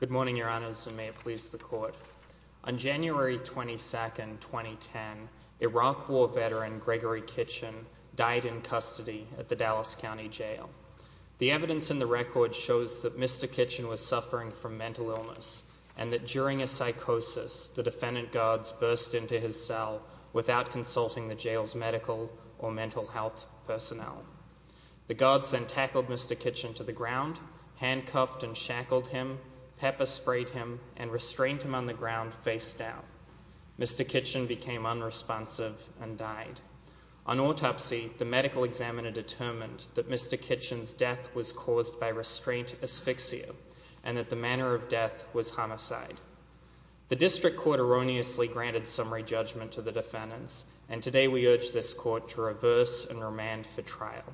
Good morning, your honors, and may it please the court. On January 22nd, 2010, Iraq War veteran Gregory Kitchen died in custody at the Dallas County Jail. The evidence in the record shows that Mr. Kitchen was suffering from mental illness and that during a psychosis, the defendant guards burst into his cell without consulting the jail's medical or mental health personnel. The guards then pepper sprayed him and restrained him on the ground face down. Mr. Kitchen became unresponsive and died. On autopsy, the medical examiner determined that Mr. Kitchen's death was caused by restraint asphyxia and that the manner of death was homicide. The district court erroneously granted summary judgment to the defendants, and today we urge this court to reverse and remand for trial.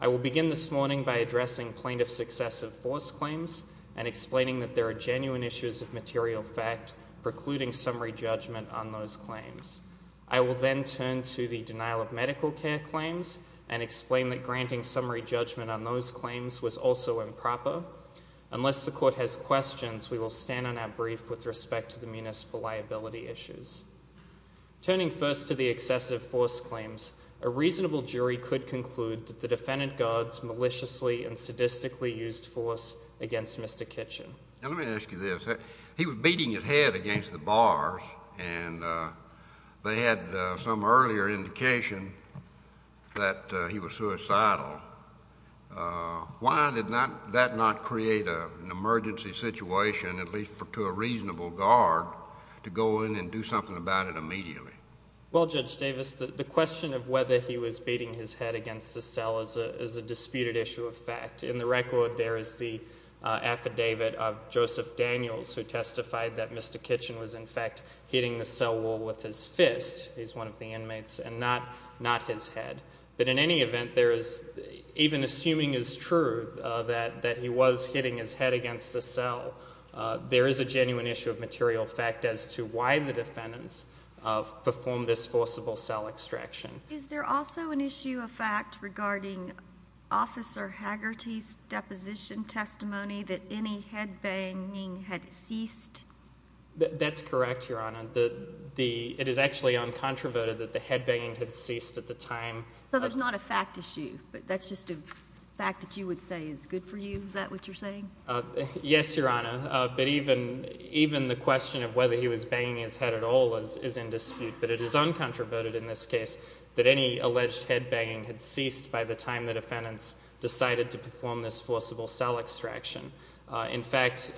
I will begin this morning by addressing plaintiff's excessive force claims and explaining that there are genuine issues of material fact precluding summary judgment on those claims. I will then turn to the denial of medical care claims and explain that granting summary judgment on those claims was also improper. Unless the court has questions, we will stand on our brief with respect to the municipal liability issues. Turning first to the excessive force claims, a reasonable jury could conclude that the defendant guards maliciously and sadistically used force against Mr. Kitchen. Let me ask you this. He was beating his head against the bars, and they had some earlier indication that he was suicidal. Why did that not create an emergency situation, at least to a reasonable guard, to go in and do something about it immediately? Well, Judge Davis, the question of whether he was beating his head against the cell is a disputed issue of fact. In the record, there is the affidavit of Joseph Daniels who testified that Mr. Kitchen was, in fact, hitting the cell wall with his fist. He's one of the inmates, and not his head. But in any event, even assuming is true that he was hitting his head against the cell, there is a genuine issue of material fact as to why the defendants performed this forcible cell extraction. Is there also an issue of fact regarding Officer Haggerty's deposition testimony that any headbanging had ceased? That's correct, Your Honor. It is actually uncontroverted that the headbanging had ceased at the time. So there's not a fact issue, but that's just a fact that you would say is good for you? Is that what you're saying? Yes, Your Honor. But even the question of whether he was banging his head at all is in fact, uncontroverted in this case, that any alleged headbanging had ceased by the time the defendants decided to perform this forcible cell extraction. In fact,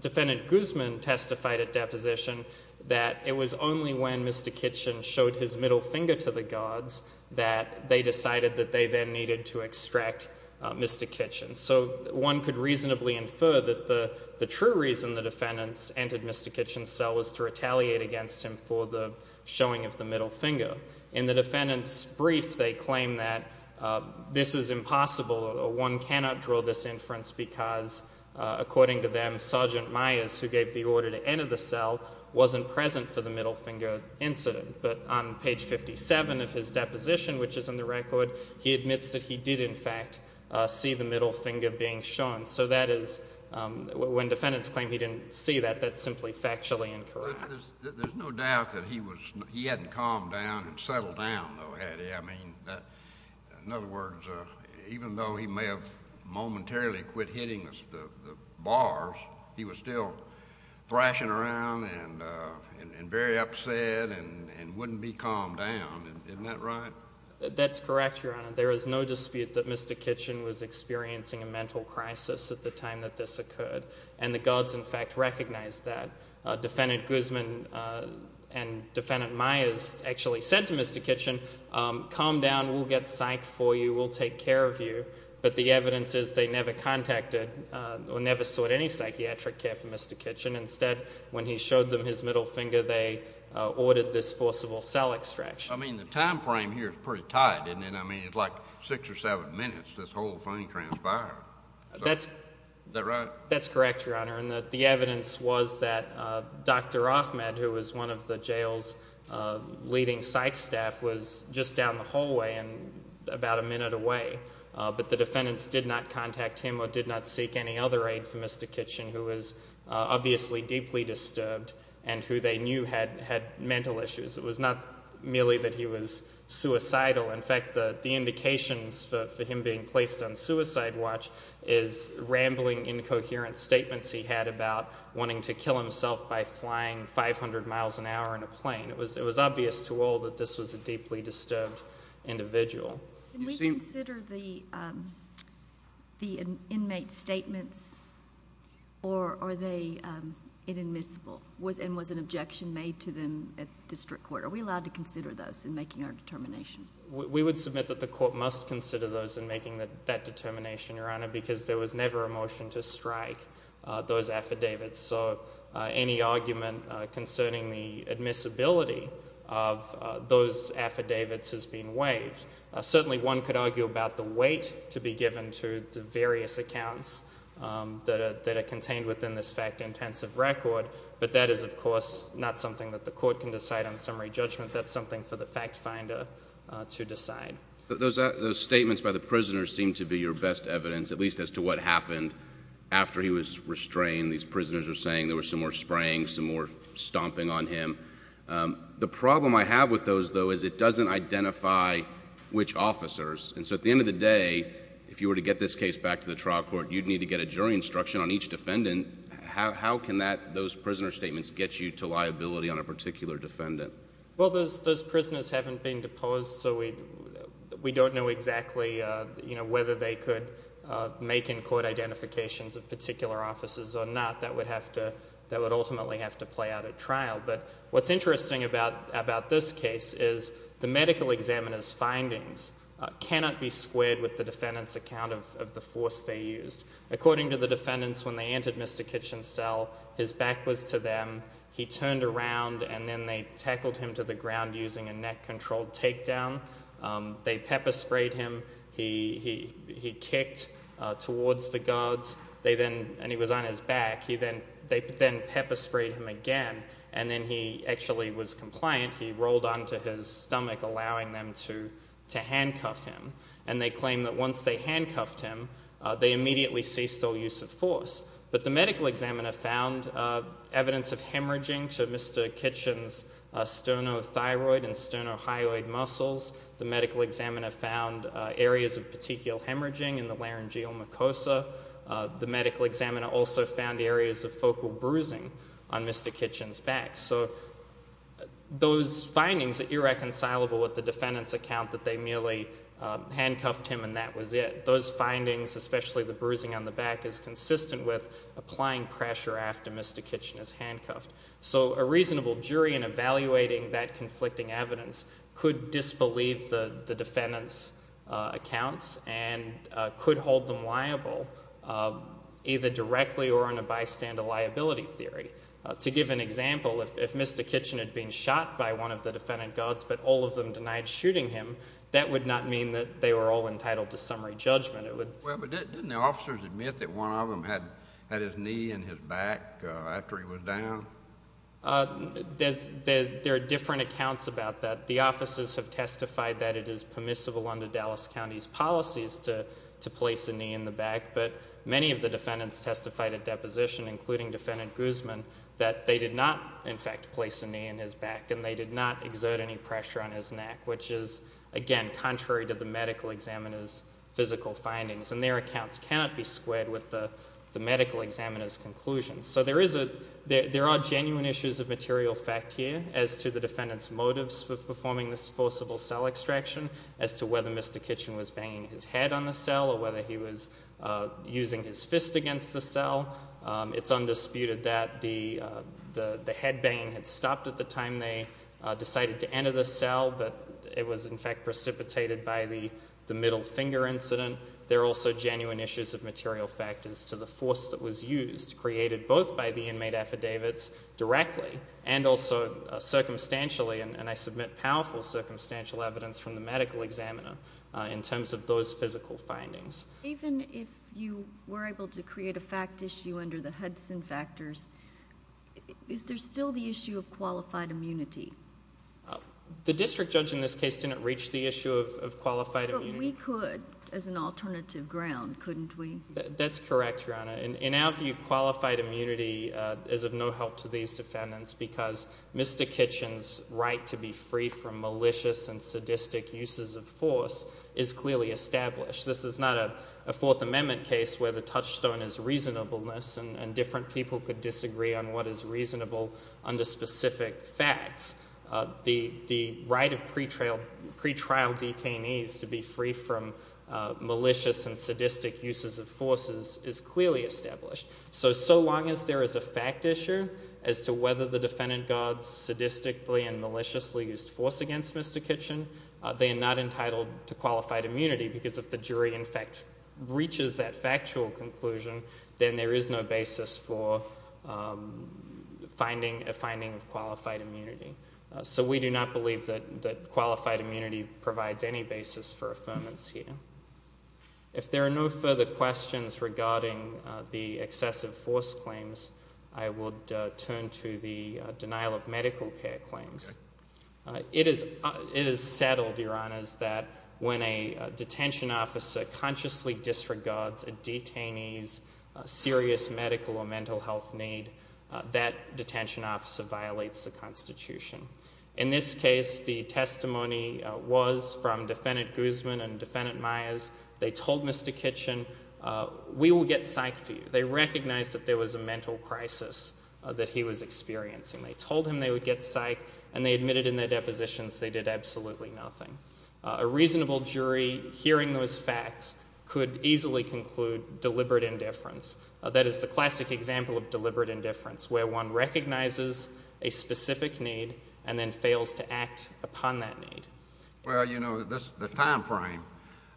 Defendant Guzman testified at deposition that it was only when Mr. Kitchen showed his middle finger to the guards that they decided that they then needed to extract Mr. Kitchen. So one could reasonably infer that the true reason the defendants entered Mr. Kitchen's cell was to retaliate against him for the middle finger. In the defendant's brief, they claim that this is impossible. One cannot draw this inference because, according to them, Sergeant Myers, who gave the order to enter the cell, wasn't present for the middle finger incident. But on page 57 of his deposition, which is in the record, he admits that he did in fact see the middle finger being shown. So that is, when defendants claim he didn't see that, that's simply factually incorrect. There's no doubt that he hadn't calmed down and settled down, though, had he? I mean, in other words, even though he may have momentarily quit hitting the bars, he was still thrashing around and very upset and wouldn't be calmed down. Isn't that right? That's correct, Your Honor. There is no dispute that Mr. Kitchen was experiencing a mental crisis at the time that this occurred, and the guards in Guzman and Defendant Myers actually said to Mr. Kitchen, calm down, we'll get psyched for you, we'll take care of you. But the evidence is they never contacted or never sought any psychiatric care for Mr. Kitchen. Instead, when he showed them his middle finger, they ordered this forcible cell extraction. I mean, the time frame here is pretty tight, isn't it? I mean, it's like six or seven minutes, this whole thing transpired. That's correct, Your Honor, and the Mr. Ahmed, who was one of the jail's leading site staff, was just down the hallway and about a minute away, but the defendants did not contact him or did not seek any other aid for Mr. Kitchen, who was obviously deeply disturbed and who they knew had had mental issues. It was not merely that he was suicidal. In fact, the indications for him being placed on suicide watch is rambling incoherent statements he had about wanting to kill himself by flying 500 miles an hour in a plane. It was obvious to all that this was a deeply disturbed individual. Can we consider the inmate's statements, or are they inadmissible, and was an objection made to them at district court? Are we allowed to consider those in making our determination? We would submit that the court must consider those in making that determination, Your Honor, because there was never a motion to strike those affidavits, so any argument concerning the admissibility of those affidavits has been waived. Certainly one could argue about the weight to be given to the various accounts that are contained within this fact-intensive record, but that is, of course, not something that the court can decide on summary judgment. That's something for the fact-finder to decide. Those statements by the prisoners seem to be your best evidence, at least as to what happened after he was restrained. These prisoners are saying there was some more spraying, some more stomping on him. The problem I have with those, though, is it doesn't identify which officers, and so at the end of the day, if you were to get this case back to the trial court, you'd need to get a jury instruction on each defendant. How can those prisoner statements get you to liability on a particular defendant? Well, those prisoners haven't been deposed, so we don't know exactly whether they could make in-court identifications of particular officers or not. That would have to, that would ultimately have to play out at trial, but what's interesting about this case is the medical examiner's findings cannot be squared with the defendant's account of the force they used. According to the defendants, when they entered Mr. Kitchen's cell, his back was to them, he turned around, and then they tackled him to the ground using a neck-controlled takedown. They pepper sprayed him, he kicked towards the guards, they then, and he was on his back, he then, they then pepper sprayed him again, and then he actually was compliant. He rolled onto his stomach, allowing them to, to handcuff him, and they claim that once they handcuffed him, they immediately ceased all use of force. But the medical examiner found evidence of hemorrhaging to Mr. Kitchen's sternothyroid and sternohyoid muscles. The medical examiner found areas of tichial hemorrhaging in the laryngeal mucosa. The medical examiner also found areas of focal bruising on Mr. Kitchen's back. So, those findings are irreconcilable with the defendant's account that they merely handcuffed him and that was it. Those findings, especially the bruising on the back, is consistent with applying pressure after Mr. Kitchen is handcuffed. So, a reasonable jury in evaluating that conflicting evidence could disbelieve the defendant's accounts and could hold them liable, either directly or in a bystander liability theory. To give an example, if Mr. Kitchen had been shot by one of the defendant guards, but all of them denied shooting him, that would not mean that they were all entitled to summary judgment. It would... Well, but didn't the officers admit that one of them had, had his knee in his back after he was down? There's, there are different accounts about that. The officers have testified that it is permissible under Dallas County's policies to, to place a knee in the back, but many of the defendants testified at deposition, including defendant Guzman, that they did not, in fact, place a knee in his back and they did not exert any pressure on his neck, which is, again, contrary to the medical examiner's physical findings. And their accounts cannot be squared with the And there are genuine issues of material fact here as to the defendant's motives with performing this forcible cell extraction, as to whether Mr. Kitchen was banging his head on the cell or whether he was using his fist against the cell. It's undisputed that the, the, the head banging had stopped at the time they decided to enter the cell, but it was in fact precipitated by the, the middle finger incident. There are also genuine issues of material factors to the force that was used, created both by the inmate affidavits directly and also circumstantially, and, and I submit powerful circumstantial evidence from the medical examiner in terms of those physical findings. Even if you were able to create a fact issue under the Hudson factors, is there still the issue of qualified immunity? The district judge in this case didn't reach the issue of, of qualified immunity. But we could as an alternative ground, couldn't we? That's correct, your honor. In, in our view, qualified immunity is of no help to these defendants because Mr. Kitchen's right to be free from malicious and sadistic uses of force is clearly established. This is not a, a fourth amendment case where the touchstone is reasonableness and, and different people could disagree on what is reasonable under specific facts. The, the right of pretrial, pretrial detainees to be free from malicious and sadistic uses of force is, is clearly established. So, so long as there is a fact issue as to whether the defendant guards sadistically and maliciously used force against Mr. Kitchen, they are not entitled to qualified immunity because if the jury, in fact, reaches that factual conclusion, then there is no basis for finding, a finding of qualified immunity. So we do not believe that, that qualified immunity provides any basis for affirmance here. If there are no further questions regarding the excessive force claims, I would turn to the denial of medical care claims. It is, it is settled, your honors, that when a detention officer consciously disregards a detainee's serious medical or mental health need, that detention officer violates the constitution. In this case, the testimony was from Defendant Guzman and Defendant Myers. They told Mr. Kitchen, we will get psych for you. They recognized that there was a mental crisis that he was experiencing. They told him they would get psych and they admitted in their depositions they did absolutely nothing. A reasonable jury, hearing those facts, could easily conclude deliberate indifference. That is the classic example of deliberate indifference, where one recognizes a need and then fails to act upon that need. Well, you know, the time frame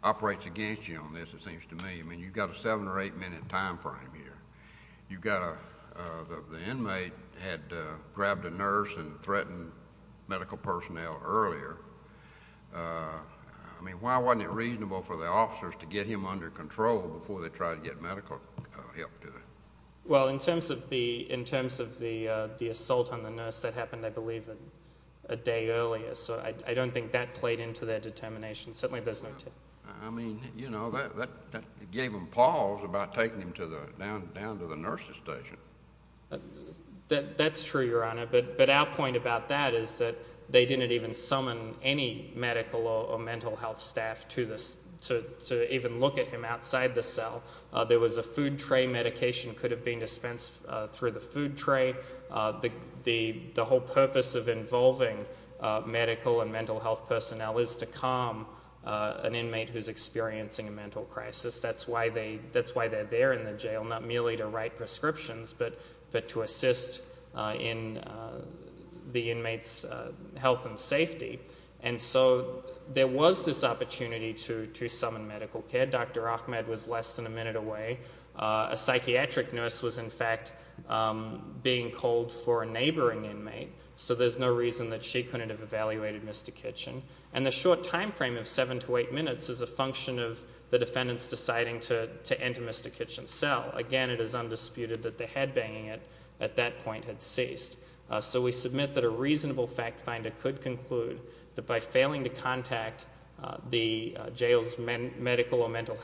operates against you on this, it seems to me. I mean, you've got a seven or eight minute time frame here. You've got a, the inmate had grabbed a nurse and threatened medical personnel earlier. I mean, why wasn't it reasonable for the officers to get him under control before they tried to get medical help to him? Well, in terms of the, in terms of the assault on the nurse that happened, I believe, a day earlier. So I don't think that played into their determination. Certainly there's no... I mean, you know, that gave them pause about taking him to the, down to the nursing station. That's true, Your Honor, but our point about that is that they didn't even summon any medical or mental health staff to even look at him outside the cell. There was a food tray medication could have been dispensed through the food tray. The, the, the whole purpose of involving medical and mental health personnel is to calm an inmate who's experiencing a mental crisis. That's why they, that's why they're there in the jail, not merely to write prescriptions but, but to assist in the inmate's health and safety. And so there was this opportunity to, to summon medical care. Dr. Ahmed was less than a minute away. A psychiatric nurse was in fact being called for a neighboring inmate. So there's no reason that she couldn't have evaluated Mr. Kitchen. And the short time frame of seven to eight minutes is a function of the defendant's deciding to, to enter Mr. Kitchen's cell. Again, it is undisputed that the headbanging at, at that point had ceased. So we submit that a reasonable fact finder could conclude that by failing to assess Mr. Kitchen's medical needs,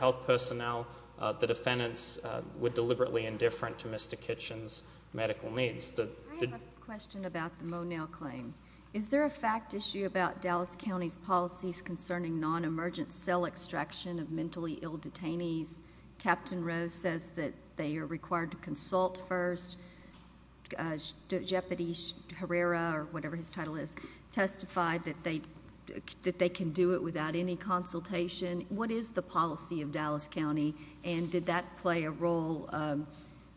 would deliberately indifferent to Mr. Kitchen's medical needs. The, the. I have a question about the Monell claim. Is there a fact issue about Dallas County's policies concerning non-emergent cell extraction of mentally ill detainees? Captain Rose says that they are required to consult first. Jeopardy Herrera, or whatever his title is, testified that they, that they can do it without any consultation. What is the policy of Dallas County, and did that play a role?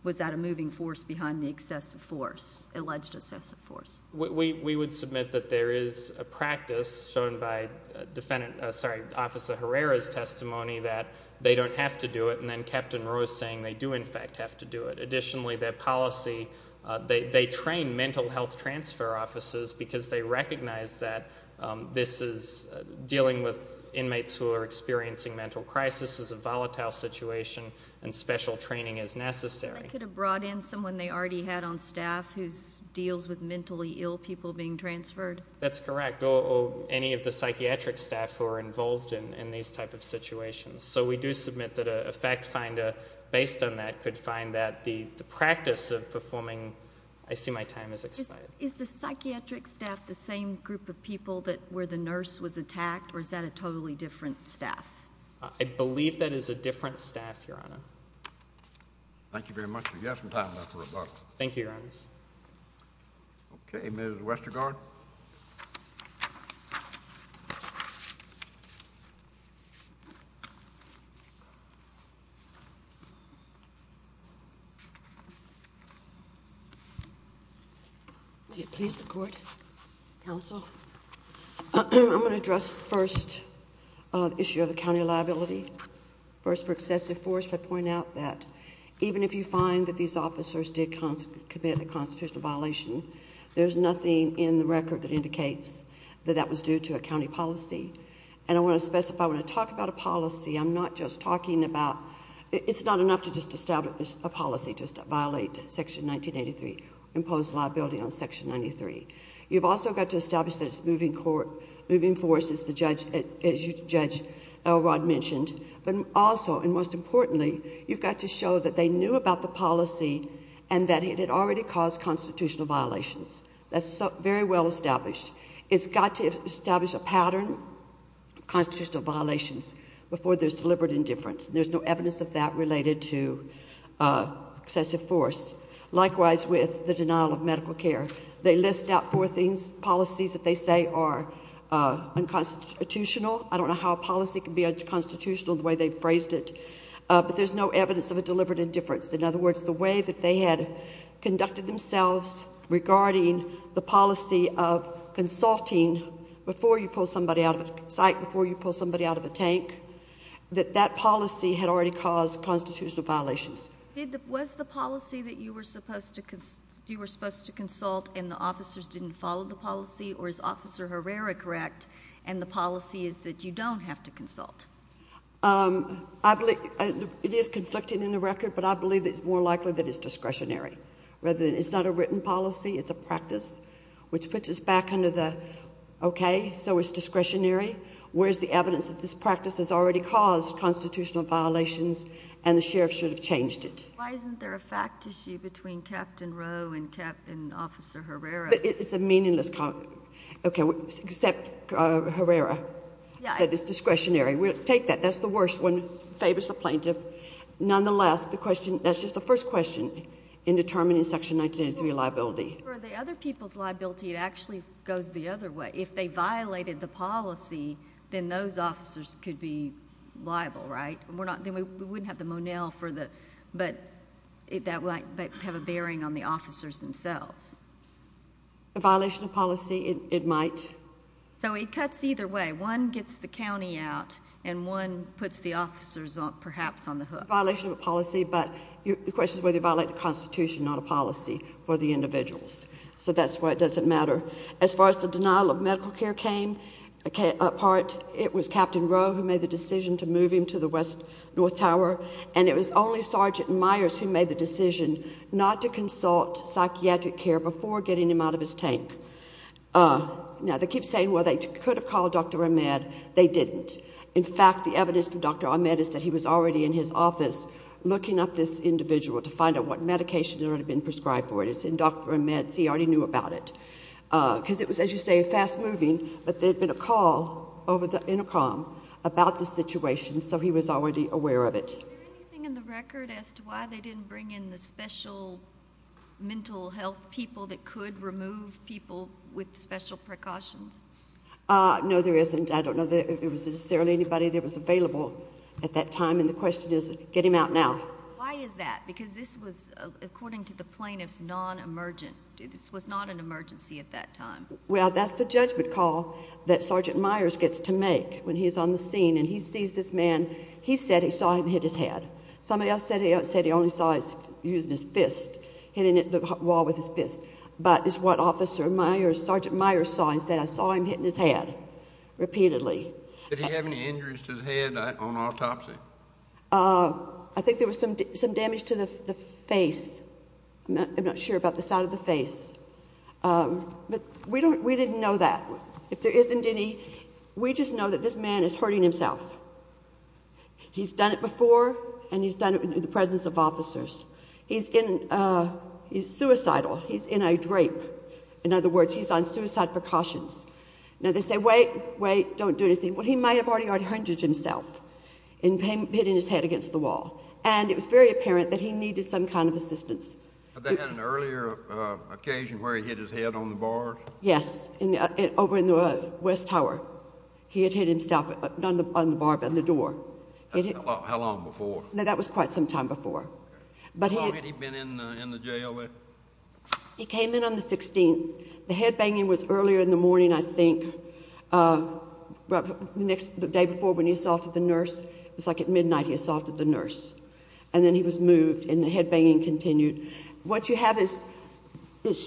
Was that a moving force behind the excessive force, alleged excessive force? We, we would submit that there is a practice shown by defendant, sorry, Officer Herrera's testimony that they don't have to do it, and then Captain Rose saying they do in fact have to do it. Additionally, their policy, they, they train mental health transfer officers because they are experiencing mental crisis, this is a volatile situation, and special training is necessary. They could have brought in someone they already had on staff who deals with mentally ill people being transferred? That's correct. Or, or any of the psychiatric staff who are involved in, in these type of situations. So we do submit that a fact finder based on that could find that the, the practice of performing, I see my time has expired. Is the psychiatric staff the same group of people that, where the nurse was attacked, or is that a totally different staff? I believe that is a different staff, Your Honor. Thank you very much. You have some time left for rebuttal. Thank you, Your Honors. Okay, Ms. Westergaard. May it please the Court, Counsel, I'm going to address first the issue of the county liability. First for excessive force, I point out that even if you find that these officers did commit a constitutional violation, there's nothing in the record that indicates that that was due to a county policy. And I want to specify, when I talk about a policy, I'm not just talking about... it's not enough to just establish a policy to violate Section 1983, impose liability on Section 93. You've also got to establish that it's moving force, as Judge Elrod mentioned, but also and most importantly, you've got to show that they knew about the policy and that it had already caused constitutional violations. That's very well established. It's got to establish a pattern of constitutional violations before there's deliberate indifference. There's no evidence of that related to excessive force. Likewise with the denial of medical care. They list out four things, policies that they say are unconstitutional. I don't know how a policy can be unconstitutional the way they've phrased it, but there's no evidence of a deliberate indifference. In other words, the way that they had conducted themselves regarding the policy of consulting before you pull somebody out of a site, before you pull somebody out of a tank, that that policy had already caused constitutional violations. Was the policy that you were supposed to consult and the officers didn't follow the policy, or is Officer Herrera correct and the policy is that you don't have to consult? I believe it is conflicting in the record, but I believe it's more likely that it's discretionary. It's not a written policy, it's a practice, which puts us back under the, okay, so it's discretionary, whereas the evidence that this practice has already caused constitutional violations and the sheriff should have changed it. Why isn't there a fact issue between Captain Rowe and Officer Herrera? It's a meaningless... Okay, except Herrera, that it's discretionary. We'll take that. That's the worst one. Favors the plaintiff. Nonetheless, the question... That's just the first question in determining Section 1983 liability. For the other people's liability, it actually goes the other way. If they violated the policy, then those officers could be liable, right? Then we wouldn't have the Monell for the... That might have a bearing on the officers themselves. A violation of policy, it might. It cuts either way. One gets the county out and one puts the officers, perhaps, on the hook. Violation of a policy, but the question is whether you violate the Constitution, not a policy for the individuals. That's why it doesn't matter. As far as the denial of medical care came apart, it was Captain Rowe who made the decision to move him to the West North Tower. It was only Sergeant Myers who made the decision not to consult psychiatric care before getting him out of his tank. Now, they keep saying, well, they could have called Dr. Ahmed. They didn't. In fact, the evidence from Dr. Ahmed is that he was already in his office looking up this individual to find out what medication had already been prescribed for it. It's in Dr. Ahmed's. He already knew about it. Because it was, as you say, fast moving, but there had been a call over the intercom about the situation, so he was already aware of it. Is there anything in the record as to why they didn't bring in the special mental health people that could remove people with special precautions? No, there isn't. I don't know that there was necessarily anybody that was available at that time, and the question is get him out now. Why is that? Because this was, according to the plaintiffs, non-emergent. This was not an emergency at that time. Well, that's the judgment call that Sergeant Myers gets to make when he's on the scene, and he sees this man. He said he saw him hit his head. Somebody else said he only saw him using his fist, hitting the wall with his fist, but it's what Officer Myers, Sergeant Myers saw and said, I saw him hitting his head repeatedly. Did he have any injuries to the head on autopsy? I think there was some damage to the face. I'm not sure about the side of the face, but we didn't know that. If there isn't any, we just know that this man is hurting himself. He's done it before, and he's done it in the presence of officers. He's suicidal. He's in a drape. In other words, he's on suicide precautions. Now, they say, wait, wait, don't do anything. Well, he might have already out-hundreded himself in hitting his head against the wall, and it was very apparent that he needed some kind of assistance. Had they had an earlier occasion where he hit his head on the bars? Yes, over in the West Tower. He had hit himself on the bar by the door. How long before? No, that was quite some time before. How long had he been in the jail? He came in on the 16th. The head-banging was earlier in the morning, I think, the day before when he assaulted the nurse. It was like at midnight he assaulted the nurse. And then he was moved, and the head-banging continued. What you have is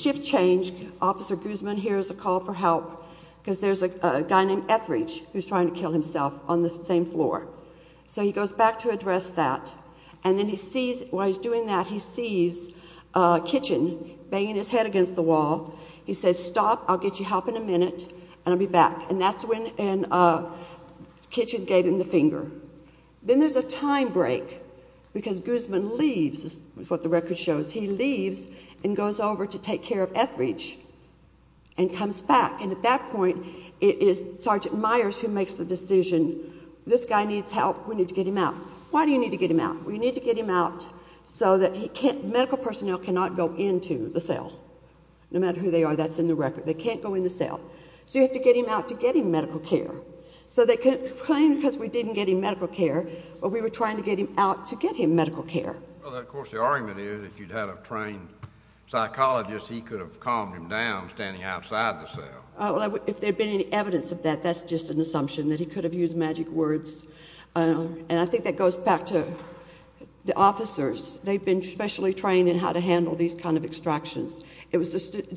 shift change. Officer Guzman here is a call for help. Because there's a guy named Etheridge who's trying to kill himself on the same floor. So he goes back to address that. And then he sees, while he's doing that, he sees Kitchen banging his head against the wall. He says, stop, I'll get you help in a minute, and I'll be back. And that's when Kitchen gave him the finger. Then there's a time break, because Guzman leaves, is what the record shows. He leaves and goes over to take care of Etheridge and comes back. And at that point, it is Sergeant Myers who makes the decision, this guy needs help, we need to get him out. Why do you need to get him out? We need to get him out so that medical personnel cannot go into the cell. No matter who they are, that's in the record. They can't go in the cell. So you have to get him out to get him medical care. So they complained because we didn't get him medical care, but we were trying to get him out to get him medical care. Well, of course, the argument is if you'd had a trained psychologist, he could have calmed him down standing outside the cell. If there'd been any evidence of that, that's just an assumption that he could have used magic words. And I think that goes back to the officers. They've been specially trained in how to handle these kind of extractions. It was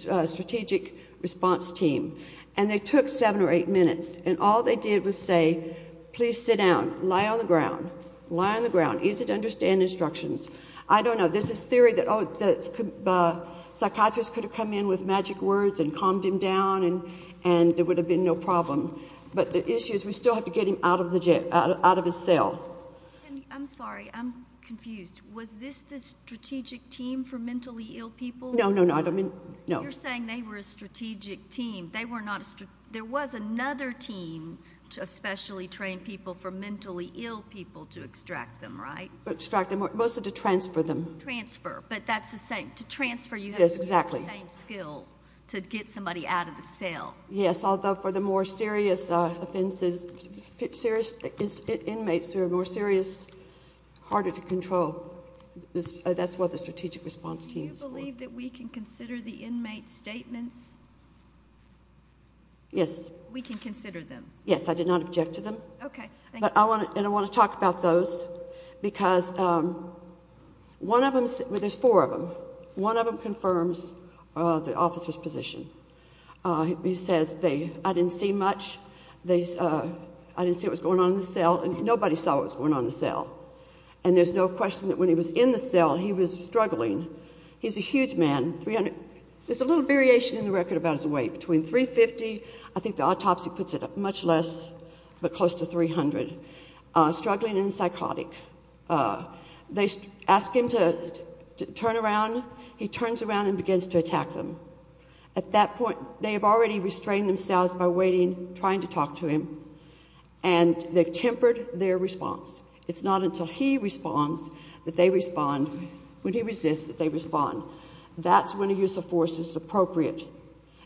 a strategic response team, and they took seven or eight minutes. And all they did was say, please sit down, lie on the ground, lie on the ground, easy to understand instructions. I don't know, there's this theory that psychiatrists could have come in with magic words and calmed him down, and there would have been no problem. But the issue is we still have to get him out of his cell. I'm sorry, I'm confused. Was this the strategic team for mentally ill people? No, no, no, I don't mean, no. You're saying they were a strategic team. There was another team of specially trained people for mentally ill people to extract them, right? Extract them, mostly to transfer them. Transfer, but that's the same. To transfer, you have to use the same skill to get somebody out of the cell. Yes, although for the more serious offenses, serious inmates who are more serious, harder to control. That's what the strategic response team is for. Do you believe that we can consider the inmate's statements? Yes. We can consider them. Yes, I did not object to them. Okay, thank you. And I want to talk about those, because one of them, well, there's four of them. One of them confirms the officer's position. He says, I didn't see much, I didn't see what was going on in the cell, and nobody saw what was going on in the cell. And there's no question that when he was in the cell, he was struggling. He's a huge man, there's a little variation in the record about his weight. Between 350, I think the autopsy puts it at much less, but close to 300, struggling and psychotic. They ask him to turn around, he turns around and begins to attack them. At that point, they have already restrained themselves by waiting, trying to talk to him, and they've tempered their response. It's not until he responds that they respond, when he resists, that they respond. That's when a use of force is appropriate.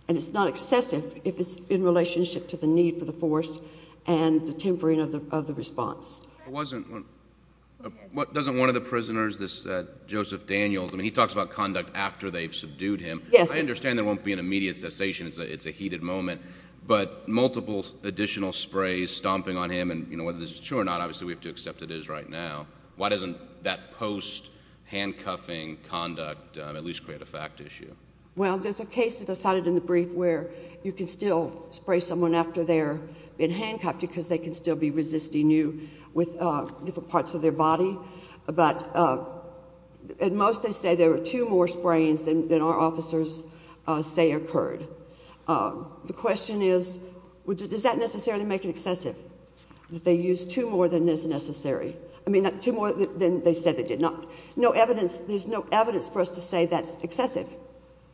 And it's not excessive if it's in relationship to the need for the force and the tempering of the response. It wasn't, doesn't one of the prisoners, this Joseph Daniels, I mean, he talks about conduct after they've subdued him. Yes. I understand there won't be an immediate cessation, it's a heated moment. But multiple additional sprays stomping on him, and whether this is true or not, obviously we have to accept it is right now. Why doesn't that post-handcuffing conduct at least create a fact issue? Well, there's a case that I cited in the brief where you can still spray someone after they're been handcuffed, because they can still be resisting you with different parts of their body. But at most, they say there were two more sprays than our officers say occurred. The question is, does that necessarily make it excessive? That they used two more than is necessary. I mean, two more than they said they did not. No evidence, there's no evidence for us to say that's excessive.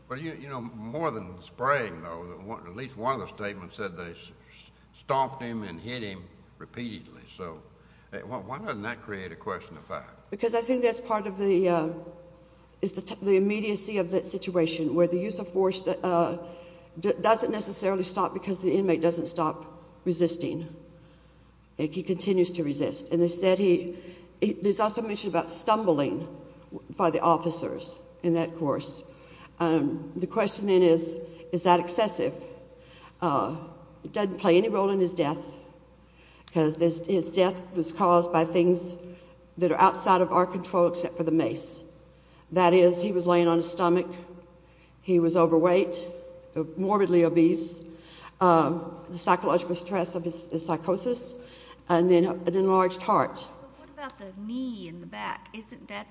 But you know, more than spraying though, at least one of the statements said they stomped him and hit him repeatedly. So why doesn't that create a question of fact? Because I think that's part of the immediacy of that situation, where the use of force doesn't necessarily stop because the inmate doesn't stop resisting. And he continues to resist. And they said he, there's also mention about stumbling by the officers in that course. The question then is, is that excessive? It doesn't play any role in his death, because his death was caused by things that are outside of our control except for the mace. That is, he was laying on his stomach, he was overweight, morbidly obese. The psychological stress of his psychosis, and then an enlarged heart. What about the knee in the back? Isn't that,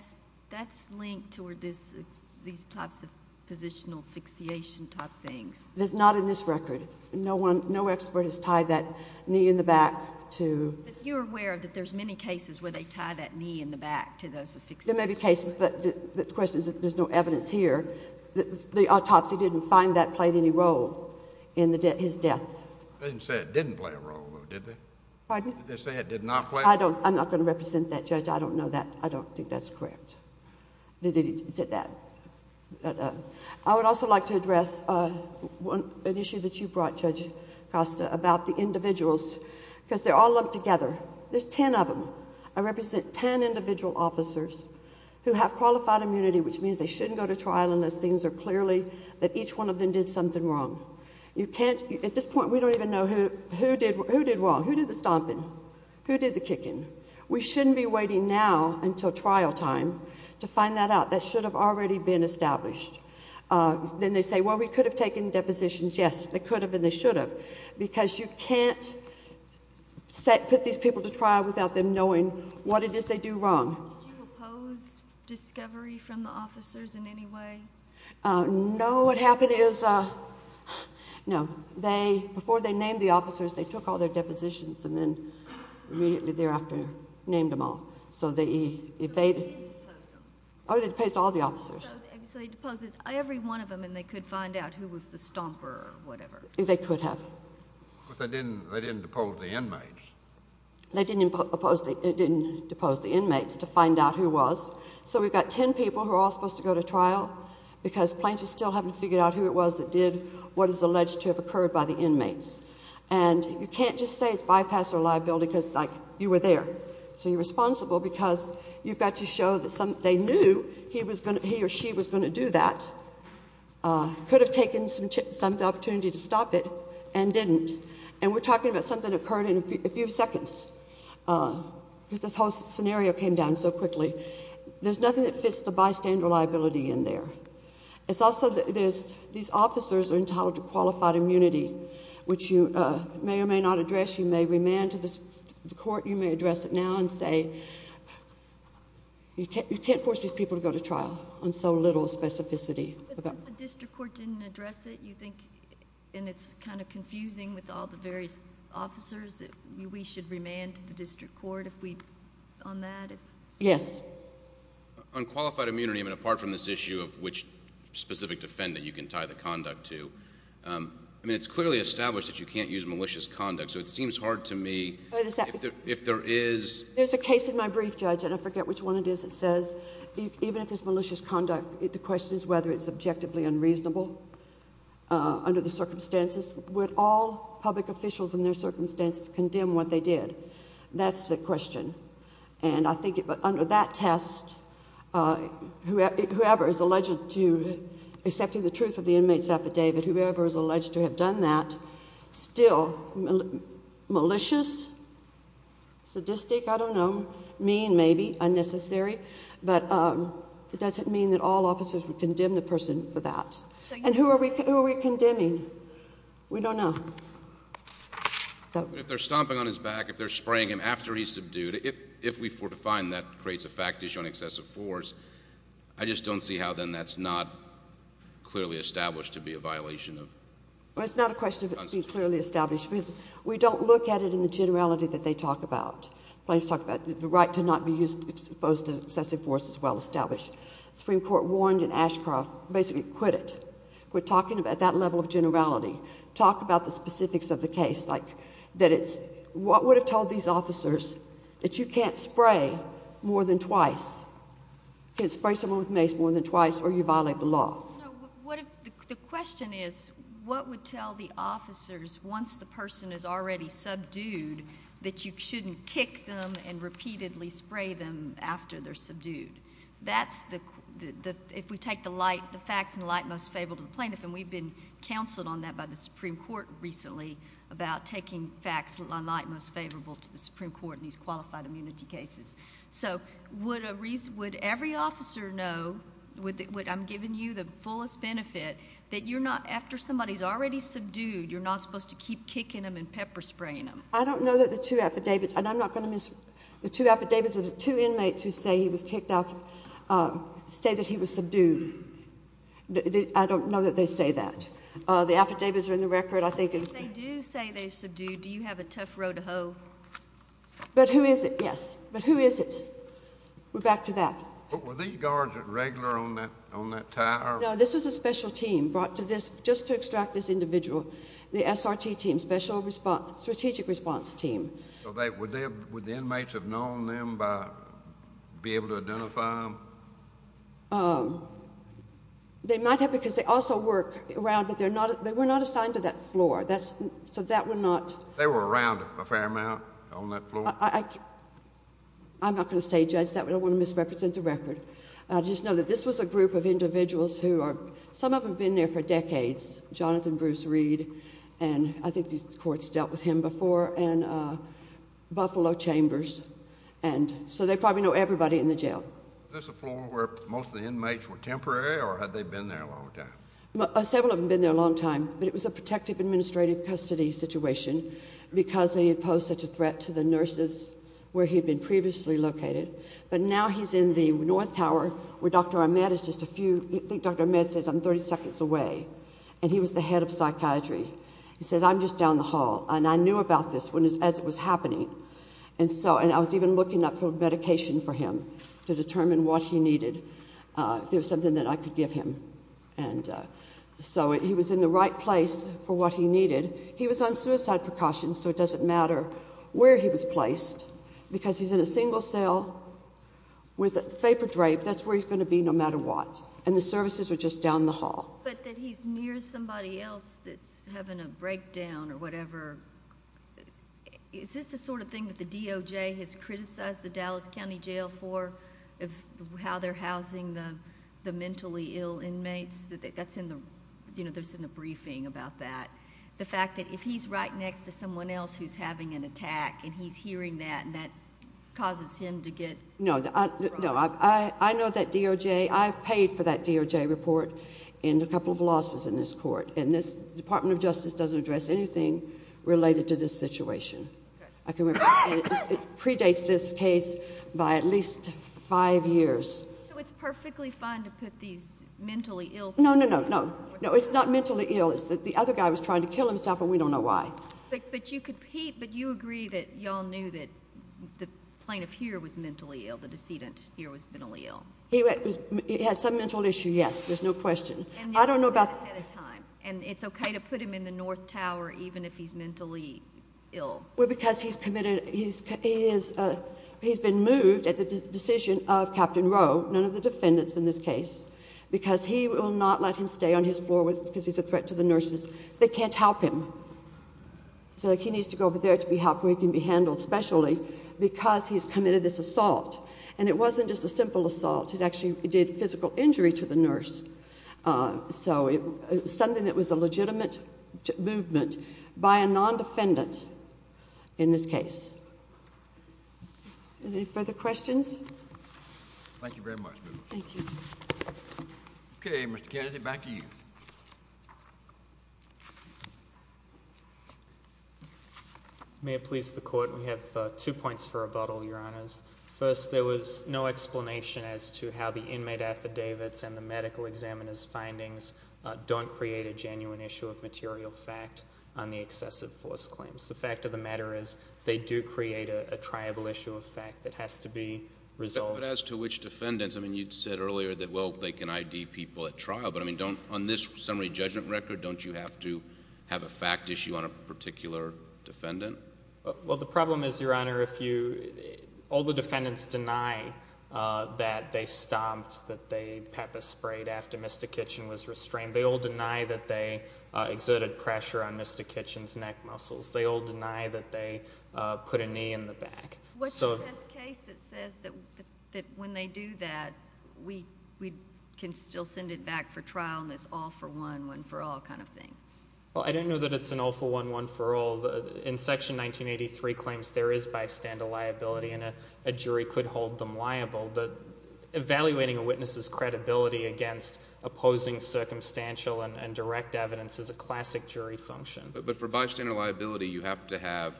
that's linked to where this, these types of positional fixation type things. There's not in this record. No one, no expert has tied that knee in the back to. But you're aware that there's many cases where they tie that knee in the back to those fixations. There may be cases, but the question is that there's no evidence here. The autopsy didn't find that played any role in his death. They didn't say it didn't play a role, did they? Pardon? Did they say it did not play a role? I don't, I'm not going to represent that judge. I don't know that. I don't think that's correct. They didn't say that. I would also like to address an issue that you brought, Judge Costa, about the individuals. because they're all lumped together. There's ten of them. I represent ten individual officers who have qualified immunity, which means they shouldn't go to trial unless things are clearly, that each one of them did something wrong. You can't, at this point, we don't even know who, who did, who did wrong? Who did the stomping? Who did the kicking? We shouldn't be waiting now until trial time to find that out. That should have already been established. Then they say, well, we could have taken depositions. Yes, they could have and they should have. Because you can't set, put these people to trial without them knowing what it is they do wrong. Did you oppose discovery from the officers in any way? No, what happened is, no, they, before they named the officers, they took all their depositions and then immediately thereafter named them all. So they, if they, oh, they deposed all the officers. So they deposed every one of them and they could find out who was the stomper or whatever. They could have. But they didn't, they didn't depose the inmates. They didn't impose the, didn't depose the inmates to find out who was. So we've got ten people who are all supposed to go to trial because plaintiffs still haven't figured out who it was that did what is alleged to have occurred by the inmates. And you can't just say it's bypass or liability because, like, you were there. So you're responsible because you've got to show that some, they knew he was going to, he or she was going to do that. Could have taken some opportunity to stop it, and didn't. And we're talking about something that occurred in a few seconds, because this whole scenario came down so quickly. There's nothing that fits the bystander liability in there. It's also that there's, these officers are entitled to qualified immunity, which you may or may not address. You may remand to the court. You may address it now and say, you can't force these people to go to trial on so little specificity. I think that since the district court didn't address it, you think, and it's kind of confusing with all the various officers, that we should remand to the district court if we, on that? Yes. On qualified immunity, I mean, apart from this issue of which specific defendant you can tie the conduct to. I mean, it's clearly established that you can't use malicious conduct, so it seems hard to me if there is. There's a case in my brief, Judge, and I forget which one it is. It says, even if it's malicious conduct, the question is whether it's objectively unreasonable under the circumstances. Would all public officials in their circumstances condemn what they did? That's the question. And I think under that test, whoever is alleged to accepting the truth of the inmate's affidavit, whoever is alleged to have done that, still malicious, sadistic, I don't know, mean, maybe, unnecessary. But it doesn't mean that all officers would condemn the person for that. And who are we condemning? We don't know. So- If they're stomping on his back, if they're spraying him after he's subdued, if we were to find that creates a fact issue on excessive force, I just don't see how then that's not clearly established to be a violation of- Well, it's not a question of it being clearly established. We don't look at it in the generality that they talk about. Plaintiffs talk about the right to not be used as opposed to excessive force as well established. Supreme Court warned in Ashcroft, basically quit it. We're talking about that level of generality. Talk about the specifics of the case, like, that it's, what would have told these officers that you can't spray more than twice? You can't spray someone with mace more than twice or you violate the law. What if, the question is, what would tell the officers, once the person is already subdued, that you shouldn't kick them and repeatedly spray them after they're subdued? That's the, if we take the light, the facts in the light most favorable to the plaintiff. And we've been counseled on that by the Supreme Court recently, about taking facts in the light most favorable to the Supreme Court in these qualified immunity cases. So, would every officer know, I'm giving you the fullest benefit, that you're not, after somebody's already subdued, you're not supposed to keep kicking them and pepper spraying them? I don't know that the two affidavits, and I'm not going to miss, the two affidavits of the two inmates who say he was kicked off, say that he was subdued. I don't know that they say that. The affidavits are in the record, I think. If they do say they subdued, do you have a tough row to hoe? But who is it? Yes. But who is it? We're back to that. But were these guards regular on that tire? No, this was a special team brought to this, just to extract this individual. The SRT team, Special Response, Strategic Response Team. So would the inmates have known them by being able to identify them? They might have, because they also work around, but they were not assigned to that floor, so that would not. They were around a fair amount on that floor? I'm not going to say, Judge, that we don't want to misrepresent the record. I just know that this was a group of individuals who are, some of them have been there for decades. Jonathan Bruce Reed, and I think these courts dealt with him before, and Buffalo Chambers. And so they probably know everybody in the jail. Was this a floor where most of the inmates were temporary, or had they been there a long time? Several of them had been there a long time, but it was a protective administrative custody situation, because they had posed such a threat to the nurses where he'd been previously located. But now he's in the North Tower, where Dr. Ahmed is just a few, I think Dr. Ahmed says I'm 30 seconds away. And he was the head of psychiatry. He says, I'm just down the hall, and I knew about this as it was happening. And so, and I was even looking up for medication for him to determine what he needed, if there was something that I could give him. And so he was in the right place for what he needed. He was on suicide precaution, so it doesn't matter where he was placed, because he's in a single cell with a vapor drape, that's where he's going to be no matter what. And the services are just down the hall. But that he's near somebody else that's having a breakdown or whatever. Is this the sort of thing that the DOJ has criticized the Dallas County Jail for, how they're housing the mentally ill inmates, that's in the, there's a briefing about that. The fact that if he's right next to someone else who's having an attack, and he's hearing that, and that causes him to get- No, I know that DOJ, I've paid for that DOJ report, and a couple of losses in this court. And this Department of Justice doesn't address anything related to this situation. I can remember, it predates this case by at least five years. So it's perfectly fine to put these mentally ill people- No, no, no, no. No, it's not mentally ill, it's that the other guy was trying to kill himself and we don't know why. But you could, Pete, but you agree that y'all knew that the plaintiff here was mentally ill, the decedent here was mentally ill. He had some mental issue, yes, there's no question. I don't know about- And they do that ahead of time, and it's okay to put him in the North Tower even if he's mentally ill. Well, because he's committed, he's been moved at the decision of Captain Rowe, none of the defendants in this case, because he will not let him stay on his floor because he's a threat to the nurses. They can't help him. So he needs to go over there to be helped where he can be handled specially, because he's committed this assault. And it wasn't just a simple assault, it actually did physical injury to the nurse. So it was something that was a legitimate movement by a non-defendant in this case. Any further questions? Thank you very much. Thank you. Okay, Mr. Kennedy, back to you. May it please the court, we have two points for rebuttal, your honors. First, there was no explanation as to how the inmate affidavits and the medical examiner's findings don't create a genuine issue of material fact on the excessive force claims. The fact of the matter is, they do create a triable issue of fact that has to be resolved. But as to which defendants, I mean, you said earlier that, well, they can ID people at trial. But I mean, on this summary judgment record, don't you have to have a fact issue on a particular defendant? Well, the problem is, your honor, all the defendants deny that they stomped, that they pepper sprayed after Mr. Kitchen was restrained. They all deny that they exerted pressure on Mr. Kitchen's neck muscles. They all deny that they put a knee in the back. What's the best case that says that when they do that, we can still send it back for trial, and it's all for one, one for all kind of thing? Well, I don't know that it's an all for one, one for all. In Section 1983 claims, there is bystander liability, and a jury could hold them liable. But evaluating a witness's credibility against opposing circumstantial and direct evidence is a classic jury function. But for bystander liability, you have to have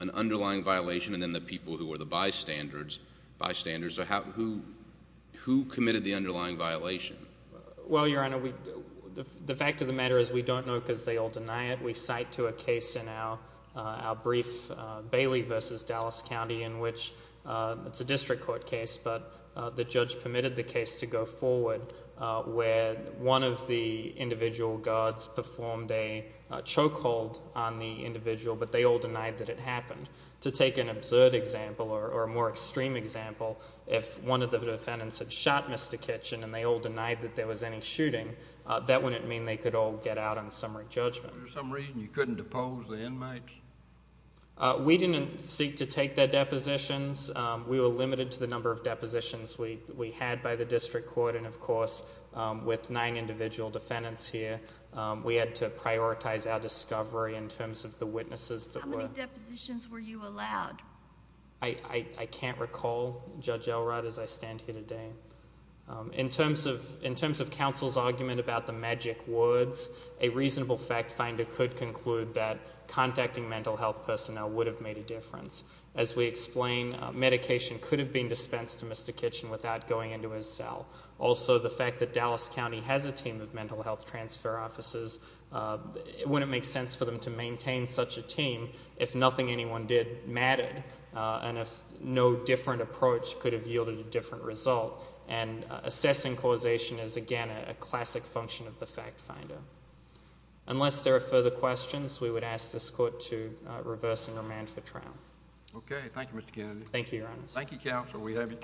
an underlying violation, and then the people who are the bystanders. Bystanders, so who committed the underlying violation? Well, your honor, the fact of the matter is, we don't know because they all deny it. We cite to a case in our brief, Bailey versus Dallas County, in which it's a district court case, but the judge permitted the case to go forward where one of the individual guards performed a choke hold on the individual, but they all denied that it happened. To take an absurd example, or a more extreme example, if one of the defendants had shot Mr. Kitchen, and they all denied that there was any shooting, that wouldn't mean they could all get out on summary judgment. Was there some reason you couldn't depose the inmates? We didn't seek to take their depositions. We were limited to the number of depositions we had by the district court, and of course, with nine individual defendants here. We had to prioritize our discovery in terms of the witnesses that were- How many depositions were you allowed? I can't recall, Judge Elrod, as I stand here today. In terms of counsel's argument about the magic words, a reasonable fact finder could conclude that contacting mental health personnel would have made a difference. As we explain, medication could have been dispensed to Mr. Kitchen without going into his cell. Also, the fact that Dallas County has a team of mental health transfer officers, it wouldn't make sense for them to maintain such a team if nothing anyone did mattered, and if no different approach could have yielded a different result. And assessing causation is, again, a classic function of the fact finder. Unless there are further questions, we would ask this court to reverse and remand for trial. Okay, thank you, Mr. Kennedy. Thank you, Your Honors. Thank you, Counsel. We have